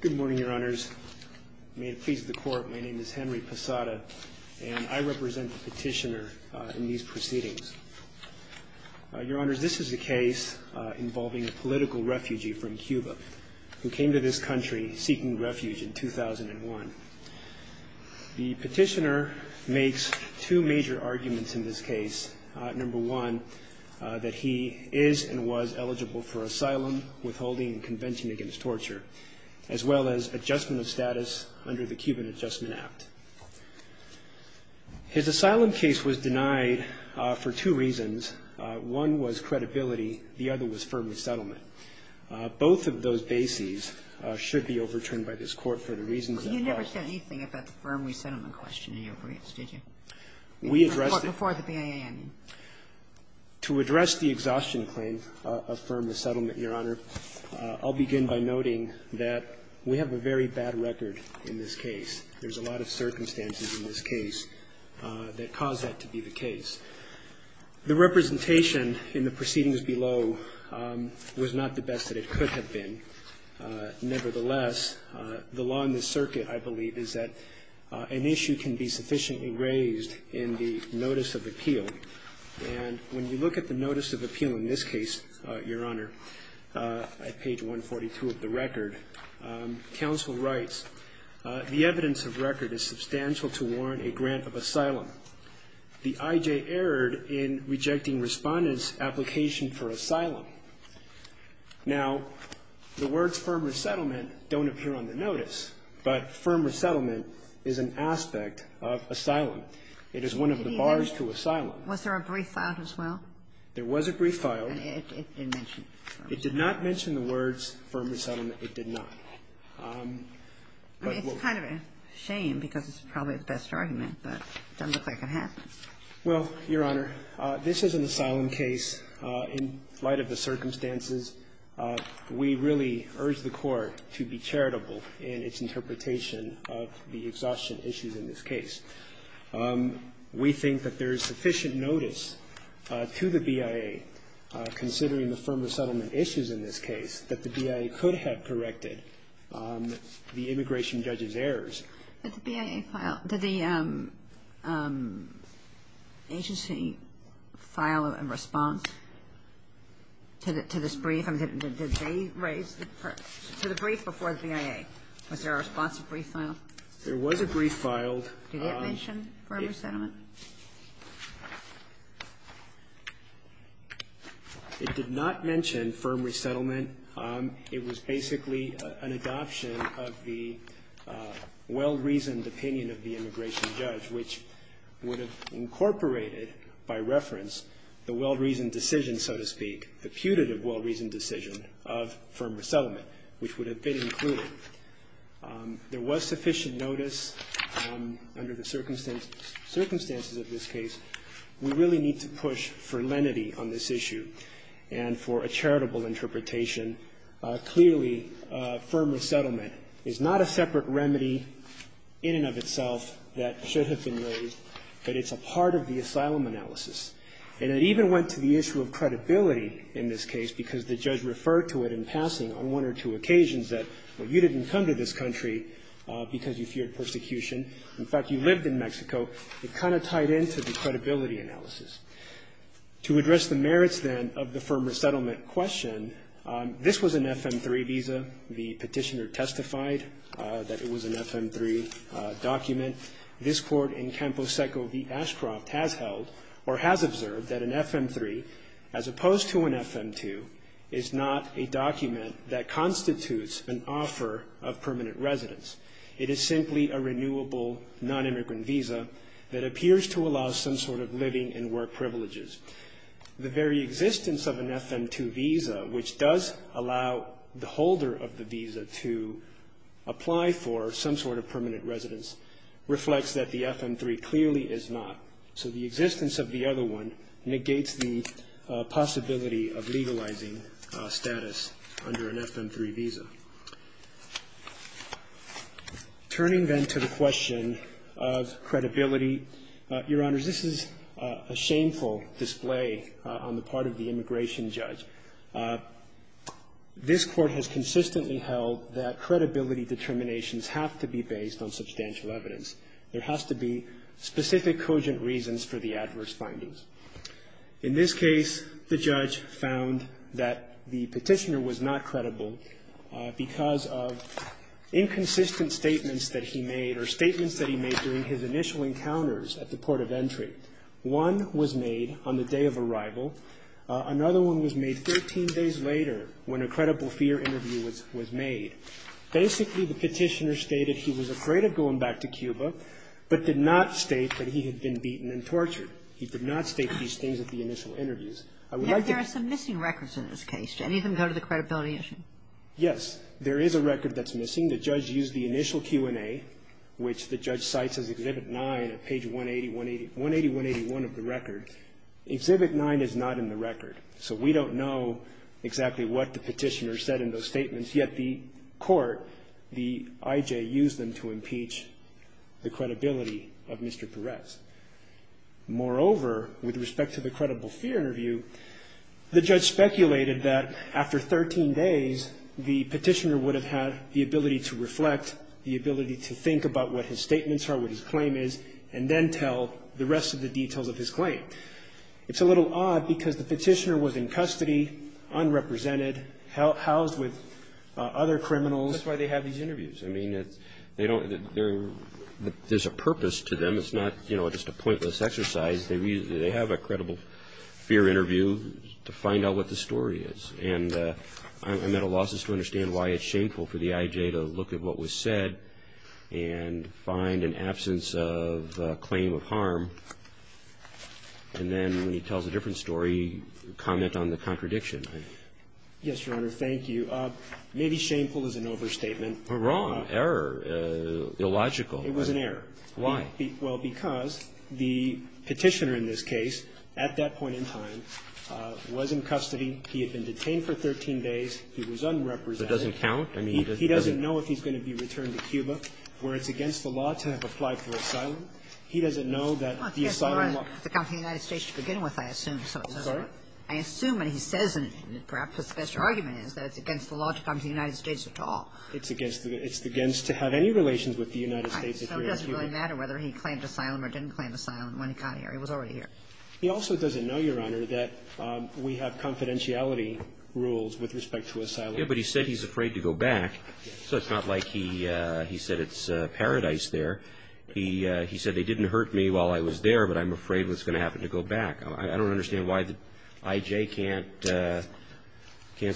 Good morning, Your Honors. May it please the Court, my name is Henry Posada, and I represent the petitioner in these proceedings. Your Honors, this is a case involving a political refugee from Cuba who came to this country seeking refuge in 2001. The petitioner makes two major arguments in this case. Number one, that he is and was eligible for asylum, withholding and convention against torture, as well as adjustment of status under the Cuban Adjustment Act. His asylum case was denied for two reasons. One was credibility. The other was firm resettlement. Both of those bases should be overturned by this Court for the reasons that I've raised. You never said anything about the firm resettlement question in your briefs, did you? We addressed it before the BAN. To address the exhaustion claim of firm resettlement, Your Honor, I'll begin by noting that we have a very bad record in this case. There's a lot of circumstances in this case that cause that to be the case. The representation in the proceedings below was not the best that it could have been. Nevertheless, the law in this circuit, I believe, is that an issue can be sufficiently raised in the notice of appeal if the And when you look at the notice of appeal in this case, Your Honor, at page 142 of the record, counsel writes, The evidence of record is substantial to warrant a grant of asylum. The I.J. erred in rejecting Respondent's application for asylum. Now, the words firm resettlement don't appear on the notice, but firm resettlement is an aspect of asylum. It is one of the bars to asylum. Was there a brief filed as well? There was a brief filed. And it didn't mention firm resettlement. It did not mention the words firm resettlement. It did not. It's kind of a shame because it's probably the best argument, but it doesn't look like it happened. Well, Your Honor, this is an asylum case. In light of the circumstances, we really urge the Court to be charitable in its interpretation of the exhaustion issues in this case. We think that there is sufficient notice to the BIA, considering the firm resettlement issues in this case, that the BIA could have corrected the immigration judge's errors. Did the BIA file the agency file a response to this brief? I mean, did they raise the brief before the BIA? Was there a responsive brief filed? There was a brief filed. Did it mention firm resettlement? It did not mention firm resettlement. It was basically an adoption of the well-reasoned opinion of the immigration judge, which would have incorporated, by reference, the well-reasoned decision, so to speak, the putative well-reasoned decision of firm resettlement, which would have been included. There was sufficient notice under the circumstances of this case. We really need to push for lenity on this issue and for a charitable interpretation. Clearly, firm resettlement is not a separate remedy in and of itself that should have been raised, but it's a part of the asylum analysis. And it even went to the issue of credibility in this case, because the judge referred to it in passing on one or two occasions that, well, you didn't come to this country because you feared persecution. In fact, you lived in Mexico. It kind of tied into the credibility analysis. To address the merits, then, of the firm resettlement question, this was an FM-3 visa. The petitioner testified that it was an FM-3 document. This Court in Campo Seco v. Ashcroft has held or has observed that an FM-3, as well, is not a document that constitutes an offer of permanent residence. It is simply a renewable, nonimmigrant visa that appears to allow some sort of living and work privileges. The very existence of an FM-2 visa, which does allow the holder of the visa to apply for some sort of permanent residence, reflects that the FM-3 clearly is not. So the existence of the other one negates the possibility of legalizing permanent residence status under an FM-3 visa. Turning, then, to the question of credibility, Your Honors, this is a shameful display on the part of the immigration judge. This Court has consistently held that credibility determinations have to be based on substantial evidence. There has to be specific cogent reasons for the adverse findings. In this case, the judge found that the petitioner was not credible because of inconsistent statements that he made or statements that he made during his initial encounters at the port of entry. One was made on the day of arrival. Another one was made 13 days later when a credible fear interview was made. Basically, the petitioner stated he was afraid of going back to Cuba but did not state that he had been beaten and tortured. He did not state these things at the initial interviews. I would like to go to the credibility issue. Yes. There is a record that's missing. The judge used the initial Q&A, which the judge cites as Exhibit 9, at page 180, 181 of the record. Exhibit 9 is not in the record. So we don't know exactly what the petitioner said in those statements. Yet the court, the I.J., used them to impeach the credibility of Mr. Perez. Moreover, with respect to the credible fear interview, the judge speculated that after 13 days, the petitioner would have had the ability to reflect, the ability to think about what his statements are, what his claim is, and then tell the rest of the details of his claim. It's a little odd because the petitioner was in custody, unrepresented, housed with other criminals. That's why they have these interviews. I mean, they don't they're there's a purpose to them. It's not, you know, just a pointless exercise. They have a credible fear interview to find out what the story is. And I'm at a loss as to understand why it's shameful for the I.J. to look at what was said and find an absence of a claim of harm. And then when he tells a different story, comment on the contradiction. Yes, Your Honor. Thank you. Maybe shameful is an overstatement. Wrong. Error. Illogical. It was an error. Why? Well, because the petitioner in this case, at that point in time, was in custody. He had been detained for 13 days. He was unrepresented. It doesn't count. I mean, he doesn't know if he's going to be returned to Cuba, where it's against the law to have applied for asylum. He doesn't know that the asylum law It's against the law to come to the United States to begin with, I assume. Sorry? I assume, and he says it, and perhaps his best argument is that it's against the law to come to the United States at all. It's against the law. It's against to have any relations with the United States if you're in Cuba. It doesn't really matter whether he claimed asylum or didn't claim asylum when he got here. He was already here. He also doesn't know, Your Honor, that we have confidentiality rules with respect to asylum. Yeah, but he said he's afraid to go back, so it's not like he said it's paradise there. He said, they didn't hurt me while I was there, but I'm afraid what's going to happen to go back. I don't understand why the IJ can't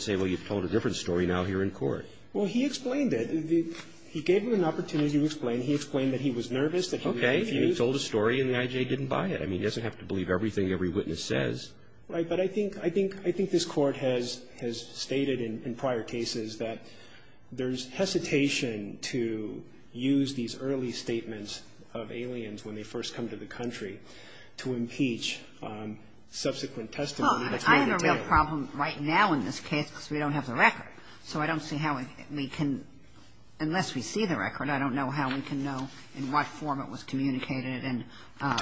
say, well, you've told a different story now here in court. Well, he explained it. He gave him an opportunity to explain. He explained that he was nervous, that he would refuse. Okay. He told a story, and the IJ didn't buy it. I mean, he doesn't have to believe everything every witness says. Right. But I think this Court has stated in prior cases that there's hesitation to use these early statements of aliens when they first come to the country to impeach subsequent testimony. Well, I have a real problem right now in this case, because we don't have the record. So I don't see how we can unless we see the record, I don't know how we can do that. I don't know in what form it was communicated and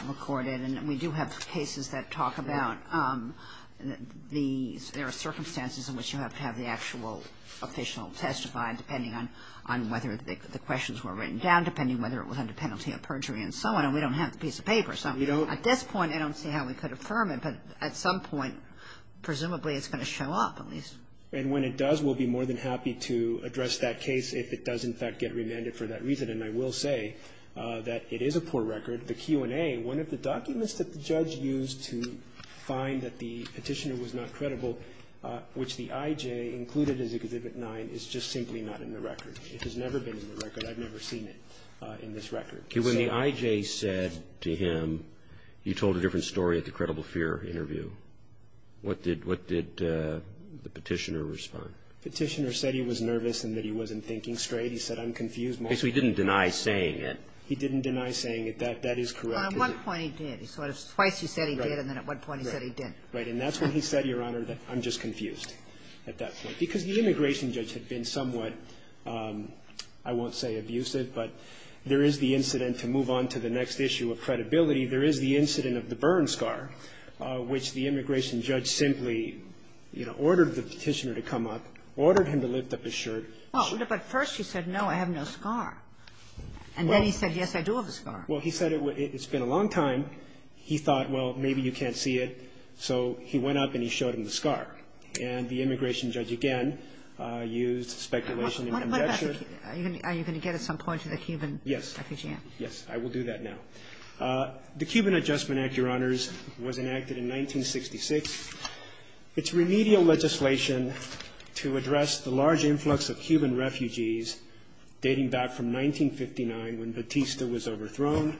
recorded. And we do have cases that talk about the – there are circumstances in which you have to have the actual official testify, depending on whether the questions were written down, depending whether it was under penalty of perjury and so on. And we don't have the piece of paper. So at this point, I don't see how we could affirm it. But at some point, presumably, it's going to show up at least. And when it does, we'll be more than happy to address that case if it does, in fact, get remanded for that reason. And I will say that it is a poor record. The Q&A, one of the documents that the judge used to find that the petitioner was not credible, which the IJ included as Exhibit 9, is just simply not in the record. It has never been in the record. I've never seen it in this record. When the IJ said to him, you told a different story at the Credible Fear interview, what did the petitioner respond? Petitioner said he was nervous and that he wasn't thinking straight. He said, I'm confused. So he didn't deny saying it. He didn't deny saying it. That is correct. Well, at one point he did. Twice he said he did, and then at one point he said he didn't. Right. And that's when he said, Your Honor, that I'm just confused at that point. Because the immigration judge had been somewhat, I won't say abusive, but there is the incident to move on to the next issue of credibility. There is the incident of the burn scar, which the immigration judge simply, you know, ordered the petitioner to come up, ordered him to lift up his shirt. Well, but first he said, no, I have no scar. And then he said, yes, I do have a scar. Well, he said it's been a long time. He thought, well, maybe you can't see it. So he went up and he showed him the scar. And the immigration judge, again, used speculation and objection. Are you going to get at some point to the Cuban refugee? Yes. Yes, I will do that now. The Cuban Adjustment Act, Your Honors, was enacted in 1966. It's remedial legislation to address the large influx of Cuban refugees dating back from 1959 when Batista was overthrown,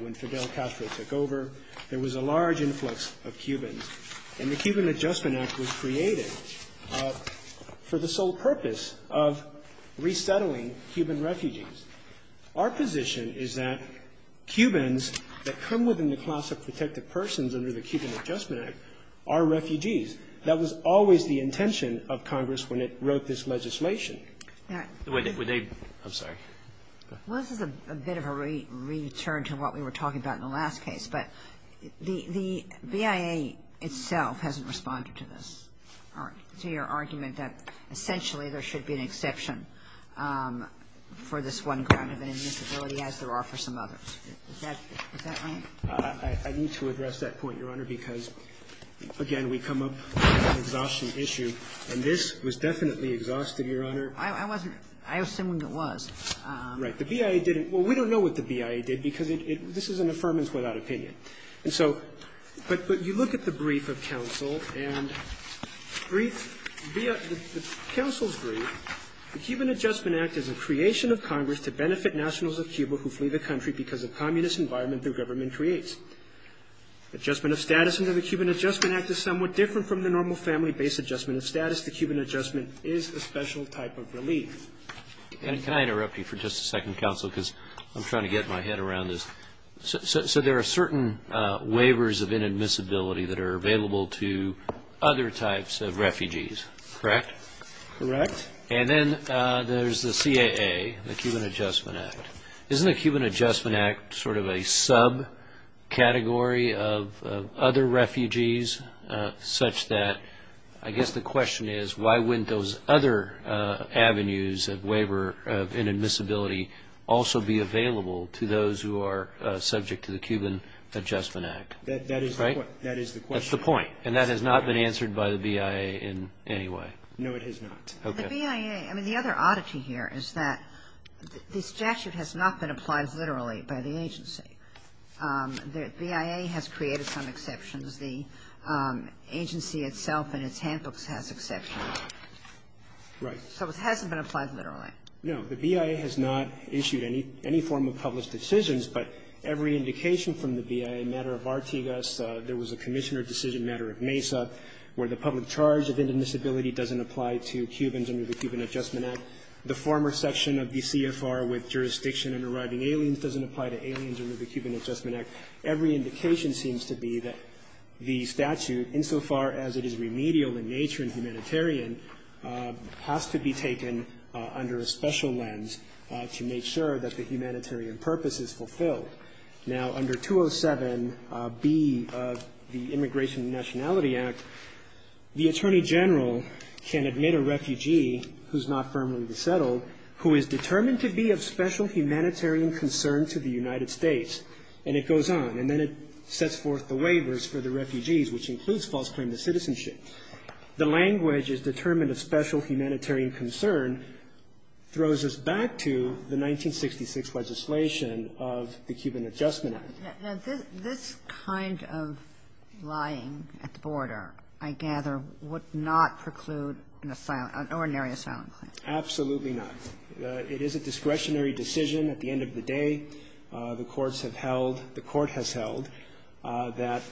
when Fidel Castro took over. There was a large influx of Cubans. And the Cuban Adjustment Act was created for the sole purpose of resettling Cuban refugees. Our position is that Cubans that come within the class of protected persons under the Cuban Adjustment Act are refugees. That was always the intention of Congress when it wrote this legislation. I'm sorry. Well, this is a bit of a return to what we were talking about in the last case. But the BIA itself hasn't responded to this, to your argument that essentially there should be an exception for this one kind of an invisibility as there are for some others. Is that right? I need to address that point, Your Honor, because, again, we come up with an exhaustion issue. And this was definitely exhausted, Your Honor. I wasn't – I assumed it was. Right. The BIA didn't – well, we don't know what the BIA did because it – this is an affirmance without opinion. And so – but you look at the brief of counsel and brief – the counsel's brief, the Cuban Adjustment Act is a creation of Congress to benefit nationals of Cuba who flee the country because of communist environment the government creates. Adjustment of status under the Cuban Adjustment Act is somewhat different from the normal family-based adjustment of status. The Cuban Adjustment is a special type of relief. And can I interrupt you for just a second, counsel, because I'm trying to get my head around this. So there are certain waivers of inadmissibility that are available to other types of refugees, correct? Correct. And then there's the CAA, the Cuban Adjustment Act. Isn't the Cuban Adjustment Act sort of a subcategory of other refugees such that – I guess the question is why wouldn't those other avenues of waiver of inadmissibility also be available to those who are subject to the Cuban Adjustment Act, right? That is the question. That's the point. And that has not been answered by the BIA in any way. No, it has not. The BIA – I mean, the other oddity here is that this statute has not been applied literally by the agency. The BIA has created some exceptions. The agency itself and its handbooks has exceptions. Right. So it hasn't been applied literally. No. The BIA has not issued any form of published decisions, but every indication from the BIA matter of Artigas, there was a commissioner decision matter of Mesa where the public charge of inadmissibility doesn't apply to Cubans under the Cuban Adjustment Act. The former section of the CFR with jurisdiction in arriving aliens doesn't apply to aliens under the Cuban Adjustment Act. Every indication seems to be that the statute, insofar as it is remedial in nature and humanitarian, has to be taken under a special lens to make sure that the humanitarian purpose is fulfilled. Now, under 207B of the Immigration and Nationality Act, the attorney general can admit a refugee who's not firmly resettled, who is determined to be of special humanitarian concern to the United States, and it goes on. And then it sets forth the waivers for the refugees, which includes false claim to citizenship. The language is determined of special humanitarian concern, throws us back to the 1966 legislation of the Cuban Adjustment Act. Now, this kind of lying at the border, I gather, would not preclude an ordinary asylum claim. Absolutely not. It is a discretionary decision. At the end of the day, the courts have held, the court has held, that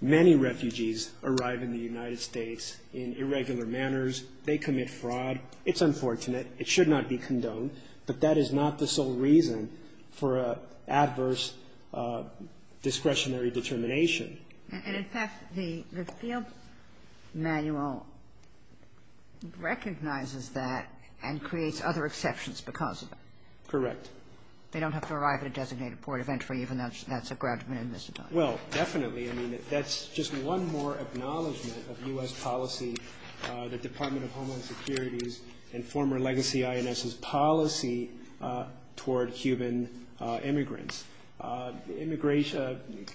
many refugees arrive in the United States in irregular manners. They commit fraud. It's unfortunate. It should not be condoned. But that is not the sole reason for adverse discretionary determination. And, in fact, the field manual recognizes that and creates other exceptions because of it. Correct. They don't have to arrive at a designated port of entry, even though that's a ground of inadmissibility. Well, definitely. I mean, that's just one more acknowledgment of U.S. policy, the Department of Homeland Security's and former legacy INS's policy toward Cuban immigrants.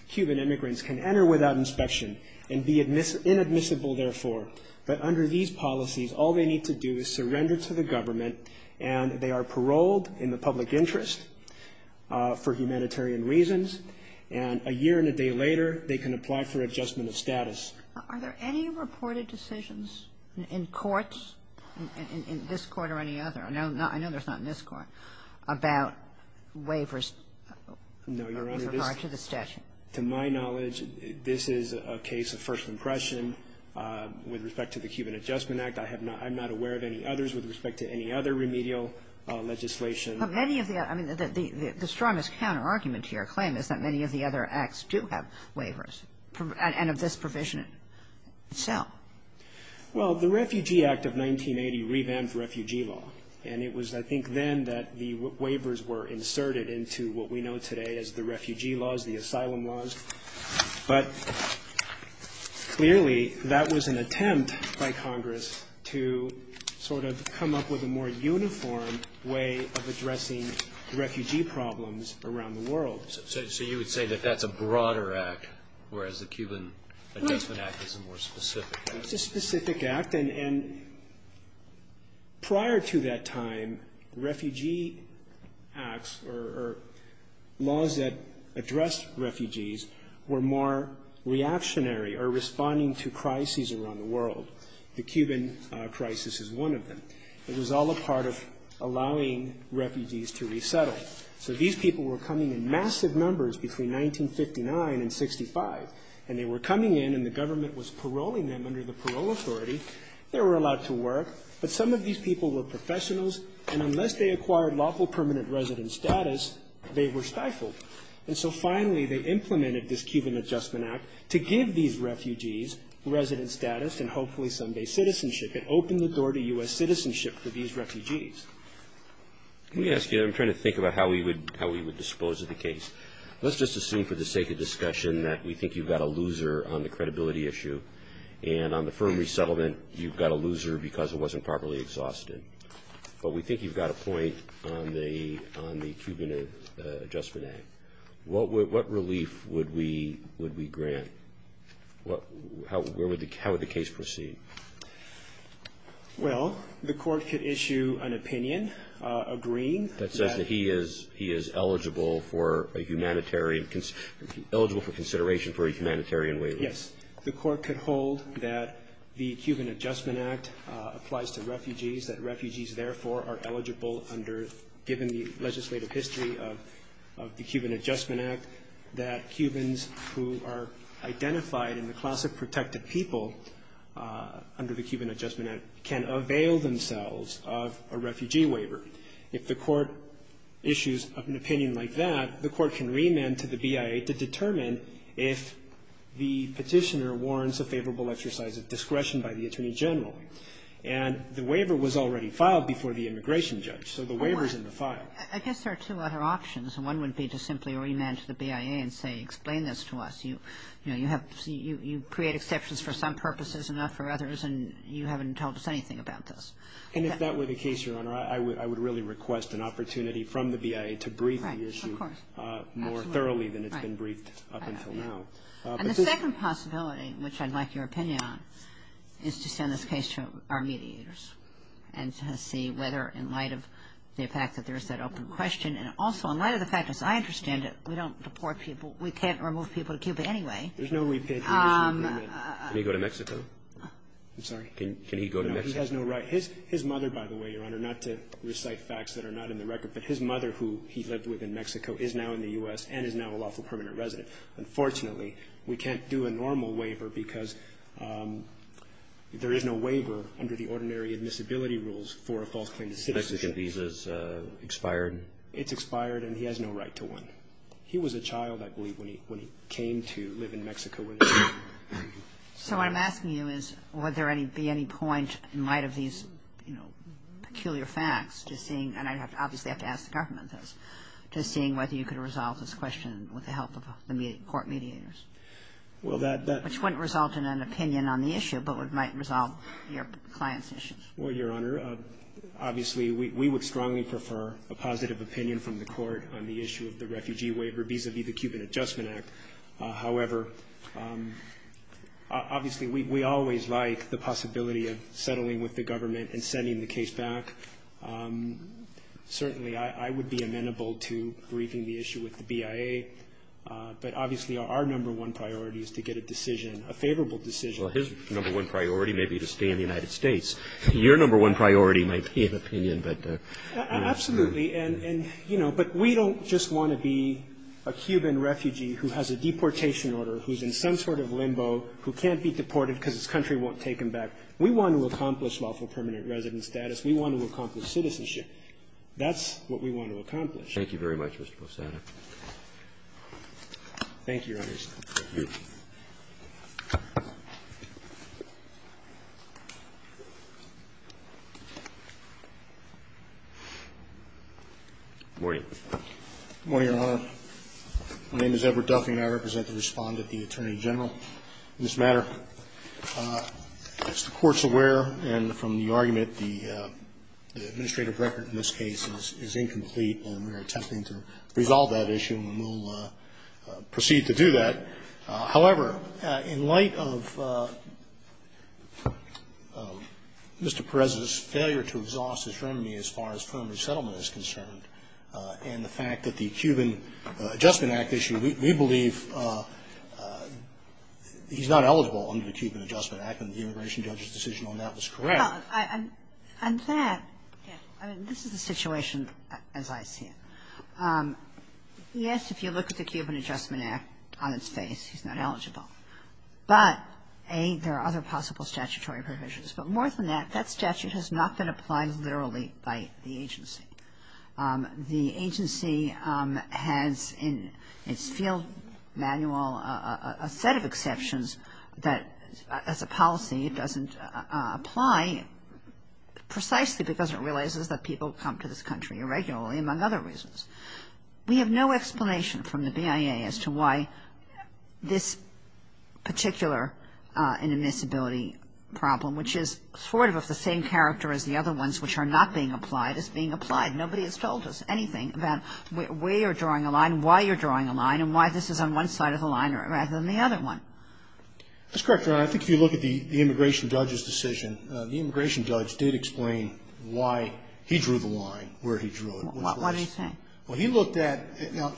Cuban immigrants can enter without inspection and be inadmissible, therefore. But under these policies, all they need to do is surrender to the government and they are paroled in the public interest for humanitarian reasons. And a year and a day later, they can apply for adjustment of status. Are there any reported decisions in courts, in this Court or any other? I know there's not in this Court, about waivers with regard to the statute. No, Your Honor. To my knowledge, this is a case of first impression with respect to the Cuban Adjustment Act. I have not – I'm not aware of any others with respect to any other remedial legislation. But many of the – I mean, the strongest counterargument to your claim is that many of the other acts do have waivers, and of this provision itself. Well, the Refugee Act of 1980 revamped refugee law. And it was, I think, then that the waivers were inserted into what we know today as the refugee laws, the asylum laws. But clearly, that was an attempt by Congress to sort of come up with a more uniform way of addressing refugee problems around the world. So you would say that that's a broader act, whereas the Cuban Adjustment Act is a more specific act? It's a specific act. And prior to that time, refugee acts or laws that addressed refugees were more reactionary or responding to crises around the world. The Cuban crisis is one of them. It was all a part of allowing refugees to resettle. So these people were coming in massive numbers between 1959 and 65, and they were coming in and the government was paroling them under the parole authority. They were allowed to work. But some of these people were professionals, and unless they acquired lawful permanent resident status, they were stifled. And so finally, they implemented this Cuban Adjustment Act to give these refugees resident status and hopefully someday citizenship. It opened the door to U.S. citizenship for these refugees. Let me ask you, I'm trying to think about how we would dispose of the case. Let's just assume for the sake of discussion that we think you've got a loser on the credibility issue, and on the firm resettlement, you've got a loser because it wasn't properly exhausted. But we think you've got a point on the Cuban Adjustment Act. What relief would we grant? How would the case proceed? Well, the court could issue an opinion agreeing that... That says that he is eligible for a humanitarian, eligible for consideration for a humanitarian waiver. Yes. The court could hold that the Cuban Adjustment Act applies to refugees, that refugees, therefore, are eligible under, given the legislative history of the Cuban Adjustment Act, that Cubans who are identified in the class of protected people under the Cuban Adjustment Act can avail themselves of a refugee waiver. If the court issues an opinion like that, the court can remand to the BIA to determine if the petitioner warrants a favorable exercise of discretion by the Attorney General. And the waiver was already filed before the immigration judge, so the waiver's in the file. I guess there are two other options. One would be to simply remand to the BIA and say, explain this to us. You know, you have, you create exceptions for some purposes and not for others, and you haven't told us anything about this. And if that were the case, Your Honor, I would really request an opportunity from the BIA to brief the issue more thoroughly than it's been briefed up until now. And the second possibility, which I'd like your opinion on, is to send this case to our mediators and to see whether, in light of the fact that there's that open question, and also in light of the fact, as I understand it, we don't deport people to Cuba anyway. There's no repatriation agreement. Can he go to Mexico? I'm sorry? Can he go to Mexico? No, he has no right. His mother, by the way, Your Honor, not to recite facts that are not in the record, but his mother, who he lived with in Mexico, is now in the U.S. and is now a lawful permanent resident. Unfortunately, we can't do a normal waiver because there is no waiver under the ordinary admissibility rules for a false claim to citizenship. Mexican visa's expired? It's expired, and he has no right to one. He was a child, I believe, when he came to live in Mexico. So what I'm asking you is, would there be any point, in light of these peculiar facts, to seeing, and I'd obviously have to ask the government this, to seeing whether you could resolve this question with the help of the court mediators? Well, that- Which wouldn't result in an opinion on the issue, but it might resolve your client's issue. Well, Your Honor, obviously, we would strongly prefer a positive opinion from the court on the issue of the refugee waiver vis-a-vis the Cuban Adjustment Act. However, obviously, we always like the possibility of settling with the government and sending the case back. Certainly, I would be amenable to briefing the issue with the BIA, but obviously, our number one priority is to get a decision, a favorable decision. Well, his number one priority may be to stay in the United States. Your number one priority might be an opinion, but- Absolutely. And, you know, but we don't just want to be a Cuban refugee who has a deportation order, who's in some sort of limbo, who can't be deported because his country won't take him back. We want to accomplish lawful permanent resident status. We want to accomplish citizenship. That's what we want to accomplish. Thank you very much, Mr. Posada. Thank you, Your Honor. Thank you. Good morning, Your Honor. My name is Edward Duffey, and I represent the Respondent, the Attorney General. In this matter, as the Court's aware, and from the argument, the administrative record in this case is incomplete, and we are attempting to resolve that issue, and we'll proceed to do that. However, in light of Mr. Perez's failure to exhaust his remedy as far as permanent settlement is concerned, and the fact that the Cuban Adjustment Act issue, we believe he's not eligible under the Cuban Adjustment Act, and the immigration judge's decision on that was correct. And that, I mean, this is the situation as I see it. Yes, if you look at the Cuban Adjustment Act on its face, he's not eligible. But, A, there are other possible statutory provisions. But more than that, that statute has not been applied literally by the agency. The agency has in its field manual a set of exceptions that as a policy it doesn't apply precisely because it realizes that people come to this country irregularly, and that's why it doesn't apply. apply to the Cuban Adjustment Act, and that's why it doesn't apply to the Cuban Adjustment Act. We have no explanation from the BIA as to why this particular inadmissibility problem, which is sort of of the same character as the other ones which are not being applied, is being applied. Nobody has told us anything about where you're drawing a line, why you're drawing a line, and why this is on one side of the line rather than the other one. That's correct, Your Honor. I think if you look at the immigration judge's decision, the immigration judge did explain why he drew the line where he drew it. What did he say? Well, he looked at the other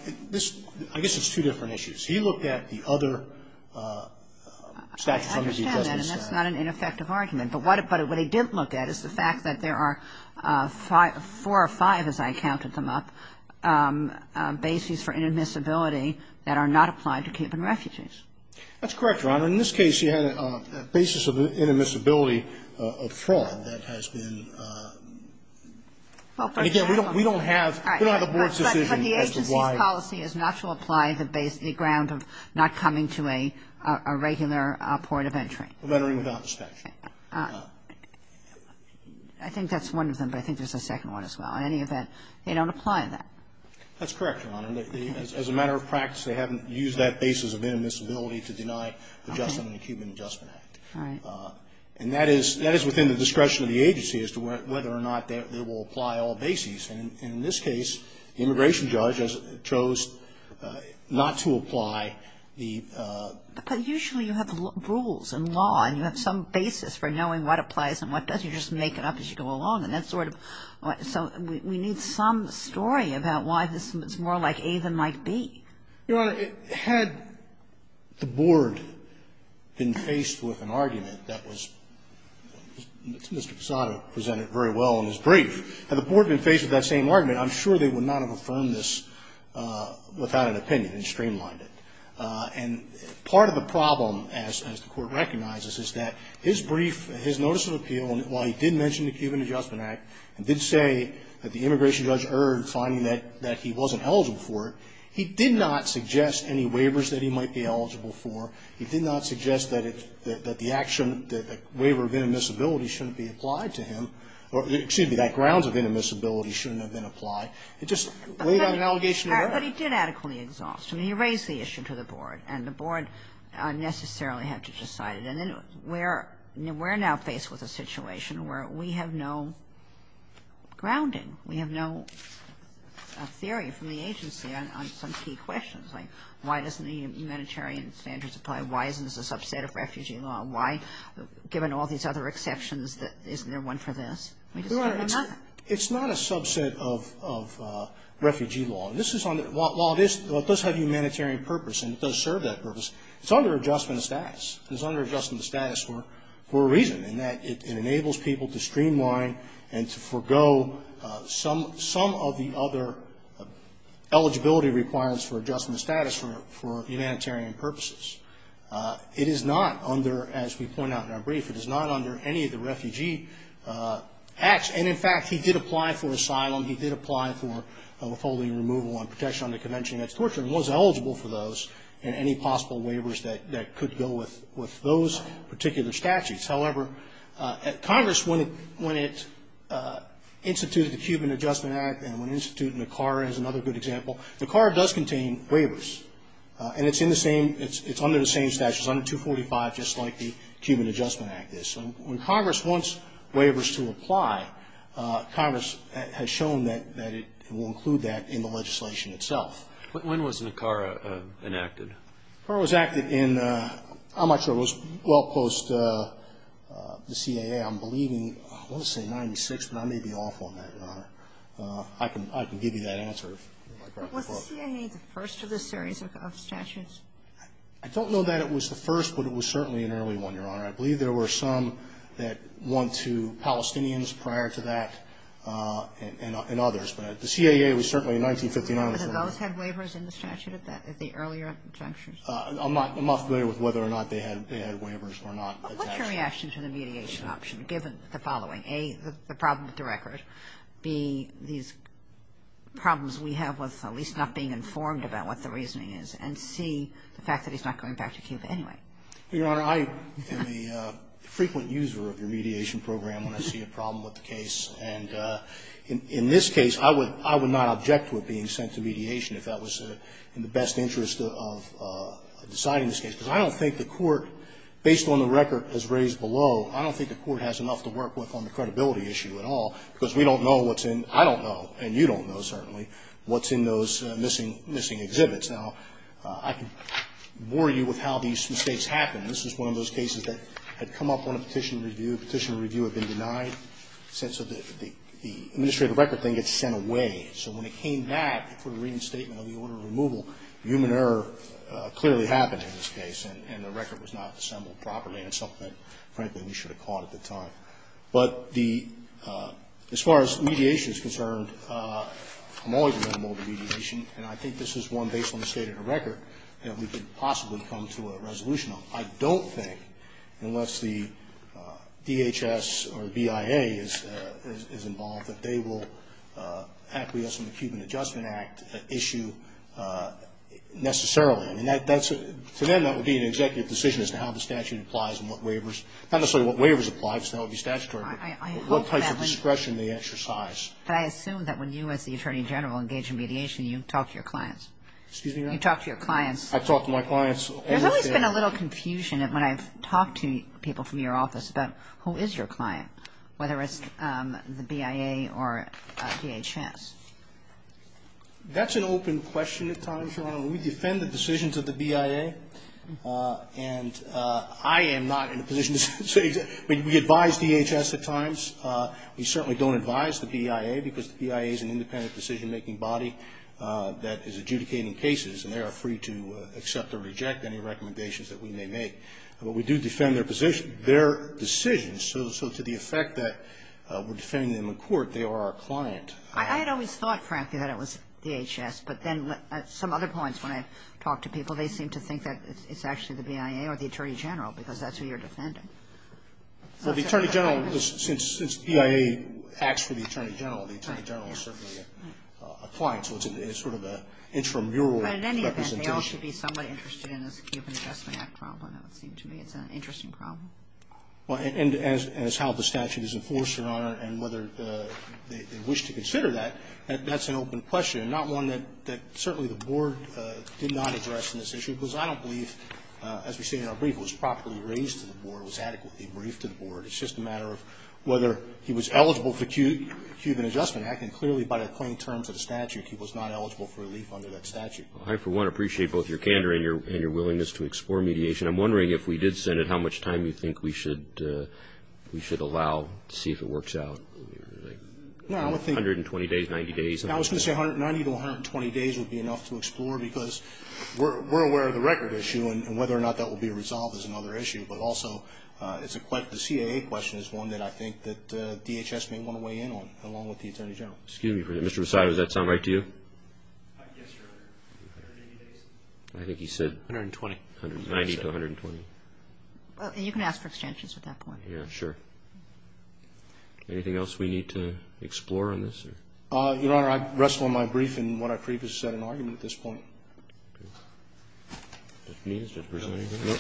statute from the Cuban Adjustment Act. I understand that, and that's not an ineffective argument. But what he didn't look at is the fact that there are four or five, as I counted them up, bases for inadmissibility that are not applied to Cuban refugees. That's correct, Your Honor. In this case, you had a basis of inadmissibility of fraud that has been ---- Well, first of all ---- Again, we don't have the Board's decision as to why ---- But the agency's policy is not to apply the ground of not coming to a regular point of entry. Lettering without the statute. I think that's one of them, but I think there's a second one as well. In any event, they don't apply that. That's correct, Your Honor. As a matter of practice, they haven't used that basis of inadmissibility to deny adjustment in the Cuban Adjustment Act. All right. And that is within the discretion of the agency as to whether or not they will apply all bases. And in this case, the immigration judge chose not to apply the ---- But usually you have rules and law, and you have some basis for knowing what applies and what doesn't. You just make it up as you go along, and that's sort of ---- So we need some story about why this is more like A than like B. Your Honor, had the Board been faced with an argument that was ---- Mr. Posada presented it very well in his brief. Had the Board been faced with that same argument, I'm sure they would not have affirmed this without an opinion and streamlined it. And part of the problem, as the Court recognizes, is that his brief, his notice of appeal, while he did mention the Cuban Adjustment Act, and did say that the immigration judge erred, finding that he wasn't eligible for it, he did not suggest any waivers that he might be eligible for. He did not suggest that the action, that waiver of inadmissibility shouldn't be applied to him. Excuse me, that grounds of inadmissibility shouldn't have been applied. It just laid out an allegation of error. But he did adequately exhaust. I mean, he raised the issue to the Board, and the Board necessarily had to decide it. And then we're now faced with a situation where we have no grounding. We have no theory from the agency on some key questions, like why doesn't the humanitarian standards apply? Why isn't this a subset of refugee law? Why, given all these other exceptions, isn't there one for this? We just don't know. It's not a subset of refugee law. This is on the law, it does have humanitarian purpose, and it does serve that purpose. It's under adjustment of status. It's under adjustment of status for a reason, in that it enables people to streamline and to forego some of the other eligibility requirements for adjustment of status for humanitarian purposes. It is not under, as we point out in our brief, it is not under any of the refugee acts. And, in fact, he did apply for asylum. He did apply for withholding removal on protection under Convention Against Torture, and was eligible for those, and any possible waivers that could go with those particular statutes. However, Congress, when it instituted the Cuban Adjustment Act, and when it instituted Nicara as another good example, Nicara does contain waivers. And it's in the same, it's under the same statute. It's under 245, just like the Cuban Adjustment Act is. And when Congress wants waivers to apply, Congress has shown that it will include that in the legislation itself. When was Nicara enacted? Nicara was enacted in, I'm not sure, it was well post the CAA. I'm believing, I want to say 96, but I may be off on that, Your Honor. I can give you that answer if you'd like. Was the CAA the first of this series of statutes? I don't know that it was the first, but it was certainly an early one, Your Honor. I believe there were some that went to Palestinians prior to that, and others. But the CAA was certainly in 1959. But did those have waivers in the statute at the earlier junctures? I'm not familiar with whether or not they had waivers or not. What's your reaction to the mediation option, given the following? A, the problem with the record. B, these problems we have with at least not being informed about what the reasoning is. And C, the fact that he's not going back to Cuba anyway. Your Honor, I am a frequent user of your mediation program when I see a problem with the case. And in this case, I would not object to it being sent to mediation if that was in the best interest of deciding this case, because I don't think the Court, based on the record as raised below, I don't think the Court has enough to work with on the credibility issue at all, because we don't know what's in the missing exhibits. Now, I can bore you with how these mistakes happen. This is one of those cases that had come up on a petition review. Petition review had been denied, so the administrative record thing gets sent away. So when it came back for the reinstatement of the order of removal, human error clearly happened in this case, and the record was not assembled properly. And it's something that, frankly, we should have caught at the time. But the as far as mediation is concerned, I'm always a member of the mediation. And I think this is one, based on the state of the record, that we could possibly come to a resolution on. I don't think, unless the DHS or BIA is involved, that they will acquiesce in the Cuban Adjustment Act issue necessarily. I mean, that's a – for them, that would be an executive decision as to how the statute applies and what waivers – not necessarily what waivers apply, because that would be statutory, but what type of discretion they exercise. But I assume that when you, as the Attorney General, engage in mediation, you talk to your clients. Excuse me, Your Honor? You talk to your clients. I talk to my clients almost every day. There's always been a little confusion when I've talked to people from your office about who is your client, whether it's the BIA or DHS. That's an open question at times, Your Honor. We defend the decisions of the BIA, and I am not in a position to say – we advise DHS at times. We certainly don't advise the BIA, because the BIA is an independent decision-making body that is adjudicating cases, and they are free to accept or reject any recommendations that we may make. But we do defend their position, their decisions. So to the effect that we're defending them in court, they are our client. I had always thought, frankly, that it was DHS. But then at some other points when I've talked to people, they seem to think that it's actually the BIA or the Attorney General, because that's who you're defending. Well, the Attorney General – since BIA acts for the Attorney General, the Attorney General is certainly a client, so it's sort of an intramural representation. But in any event, they all should be somewhat interested in this Human Adjustment Act problem, it would seem to me. It's an interesting problem. Well, and as to how the statute is enforced, Your Honor, and whether they wish to consider that, that's an open question, and not one that certainly the Board did not address in this issue, because I don't believe, as we say in our brief, it was properly raised to the Board, it was adequately briefed to the Board. It's just a matter of whether he was eligible for the Human Adjustment Act, and clearly by the plain terms of the statute, he was not eligible for relief under that statute. I, for one, appreciate both your candor and your willingness to explore mediation. I'm wondering if we did send it, how much time do you think we should allow to see if it works out? 120 days, 90 days? I was going to say 90 to 120 days would be enough to explore, because we're aware of the record issue, and whether or not that will be resolved is another issue, but also the CAA question is one that I think that DHS may want to weigh in on, along with the Attorney General. Excuse me for that. Mr. Posada, does that sound right to you? Yes, Your Honor. 180 days? I think he said... 120. 90 to 120. Well, you can ask for extensions at that point. Yeah, sure. Anything else we need to explore on this? Your Honor, I rest on my brief and what I previously said in argument at this point. Okay. Judge Menendez, Judge Breslin, anything? No.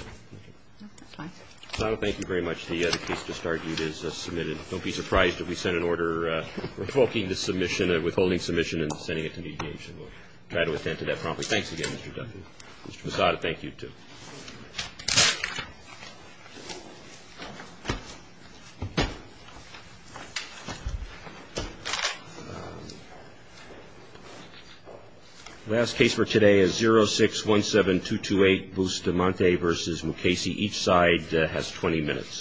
No, that's fine. Mr. Posada, thank you very much. The case just argued is submitted. Don't be surprised if we send an order revoking the submission, withholding the submission and sending it to mediation. We'll try to attend to that promptly. Thanks again, Mr. Duffy. Mr. Posada, thank you, too. The last case for today is 0617228 Bustamante v. Mukasey. Each side has 20 minutes.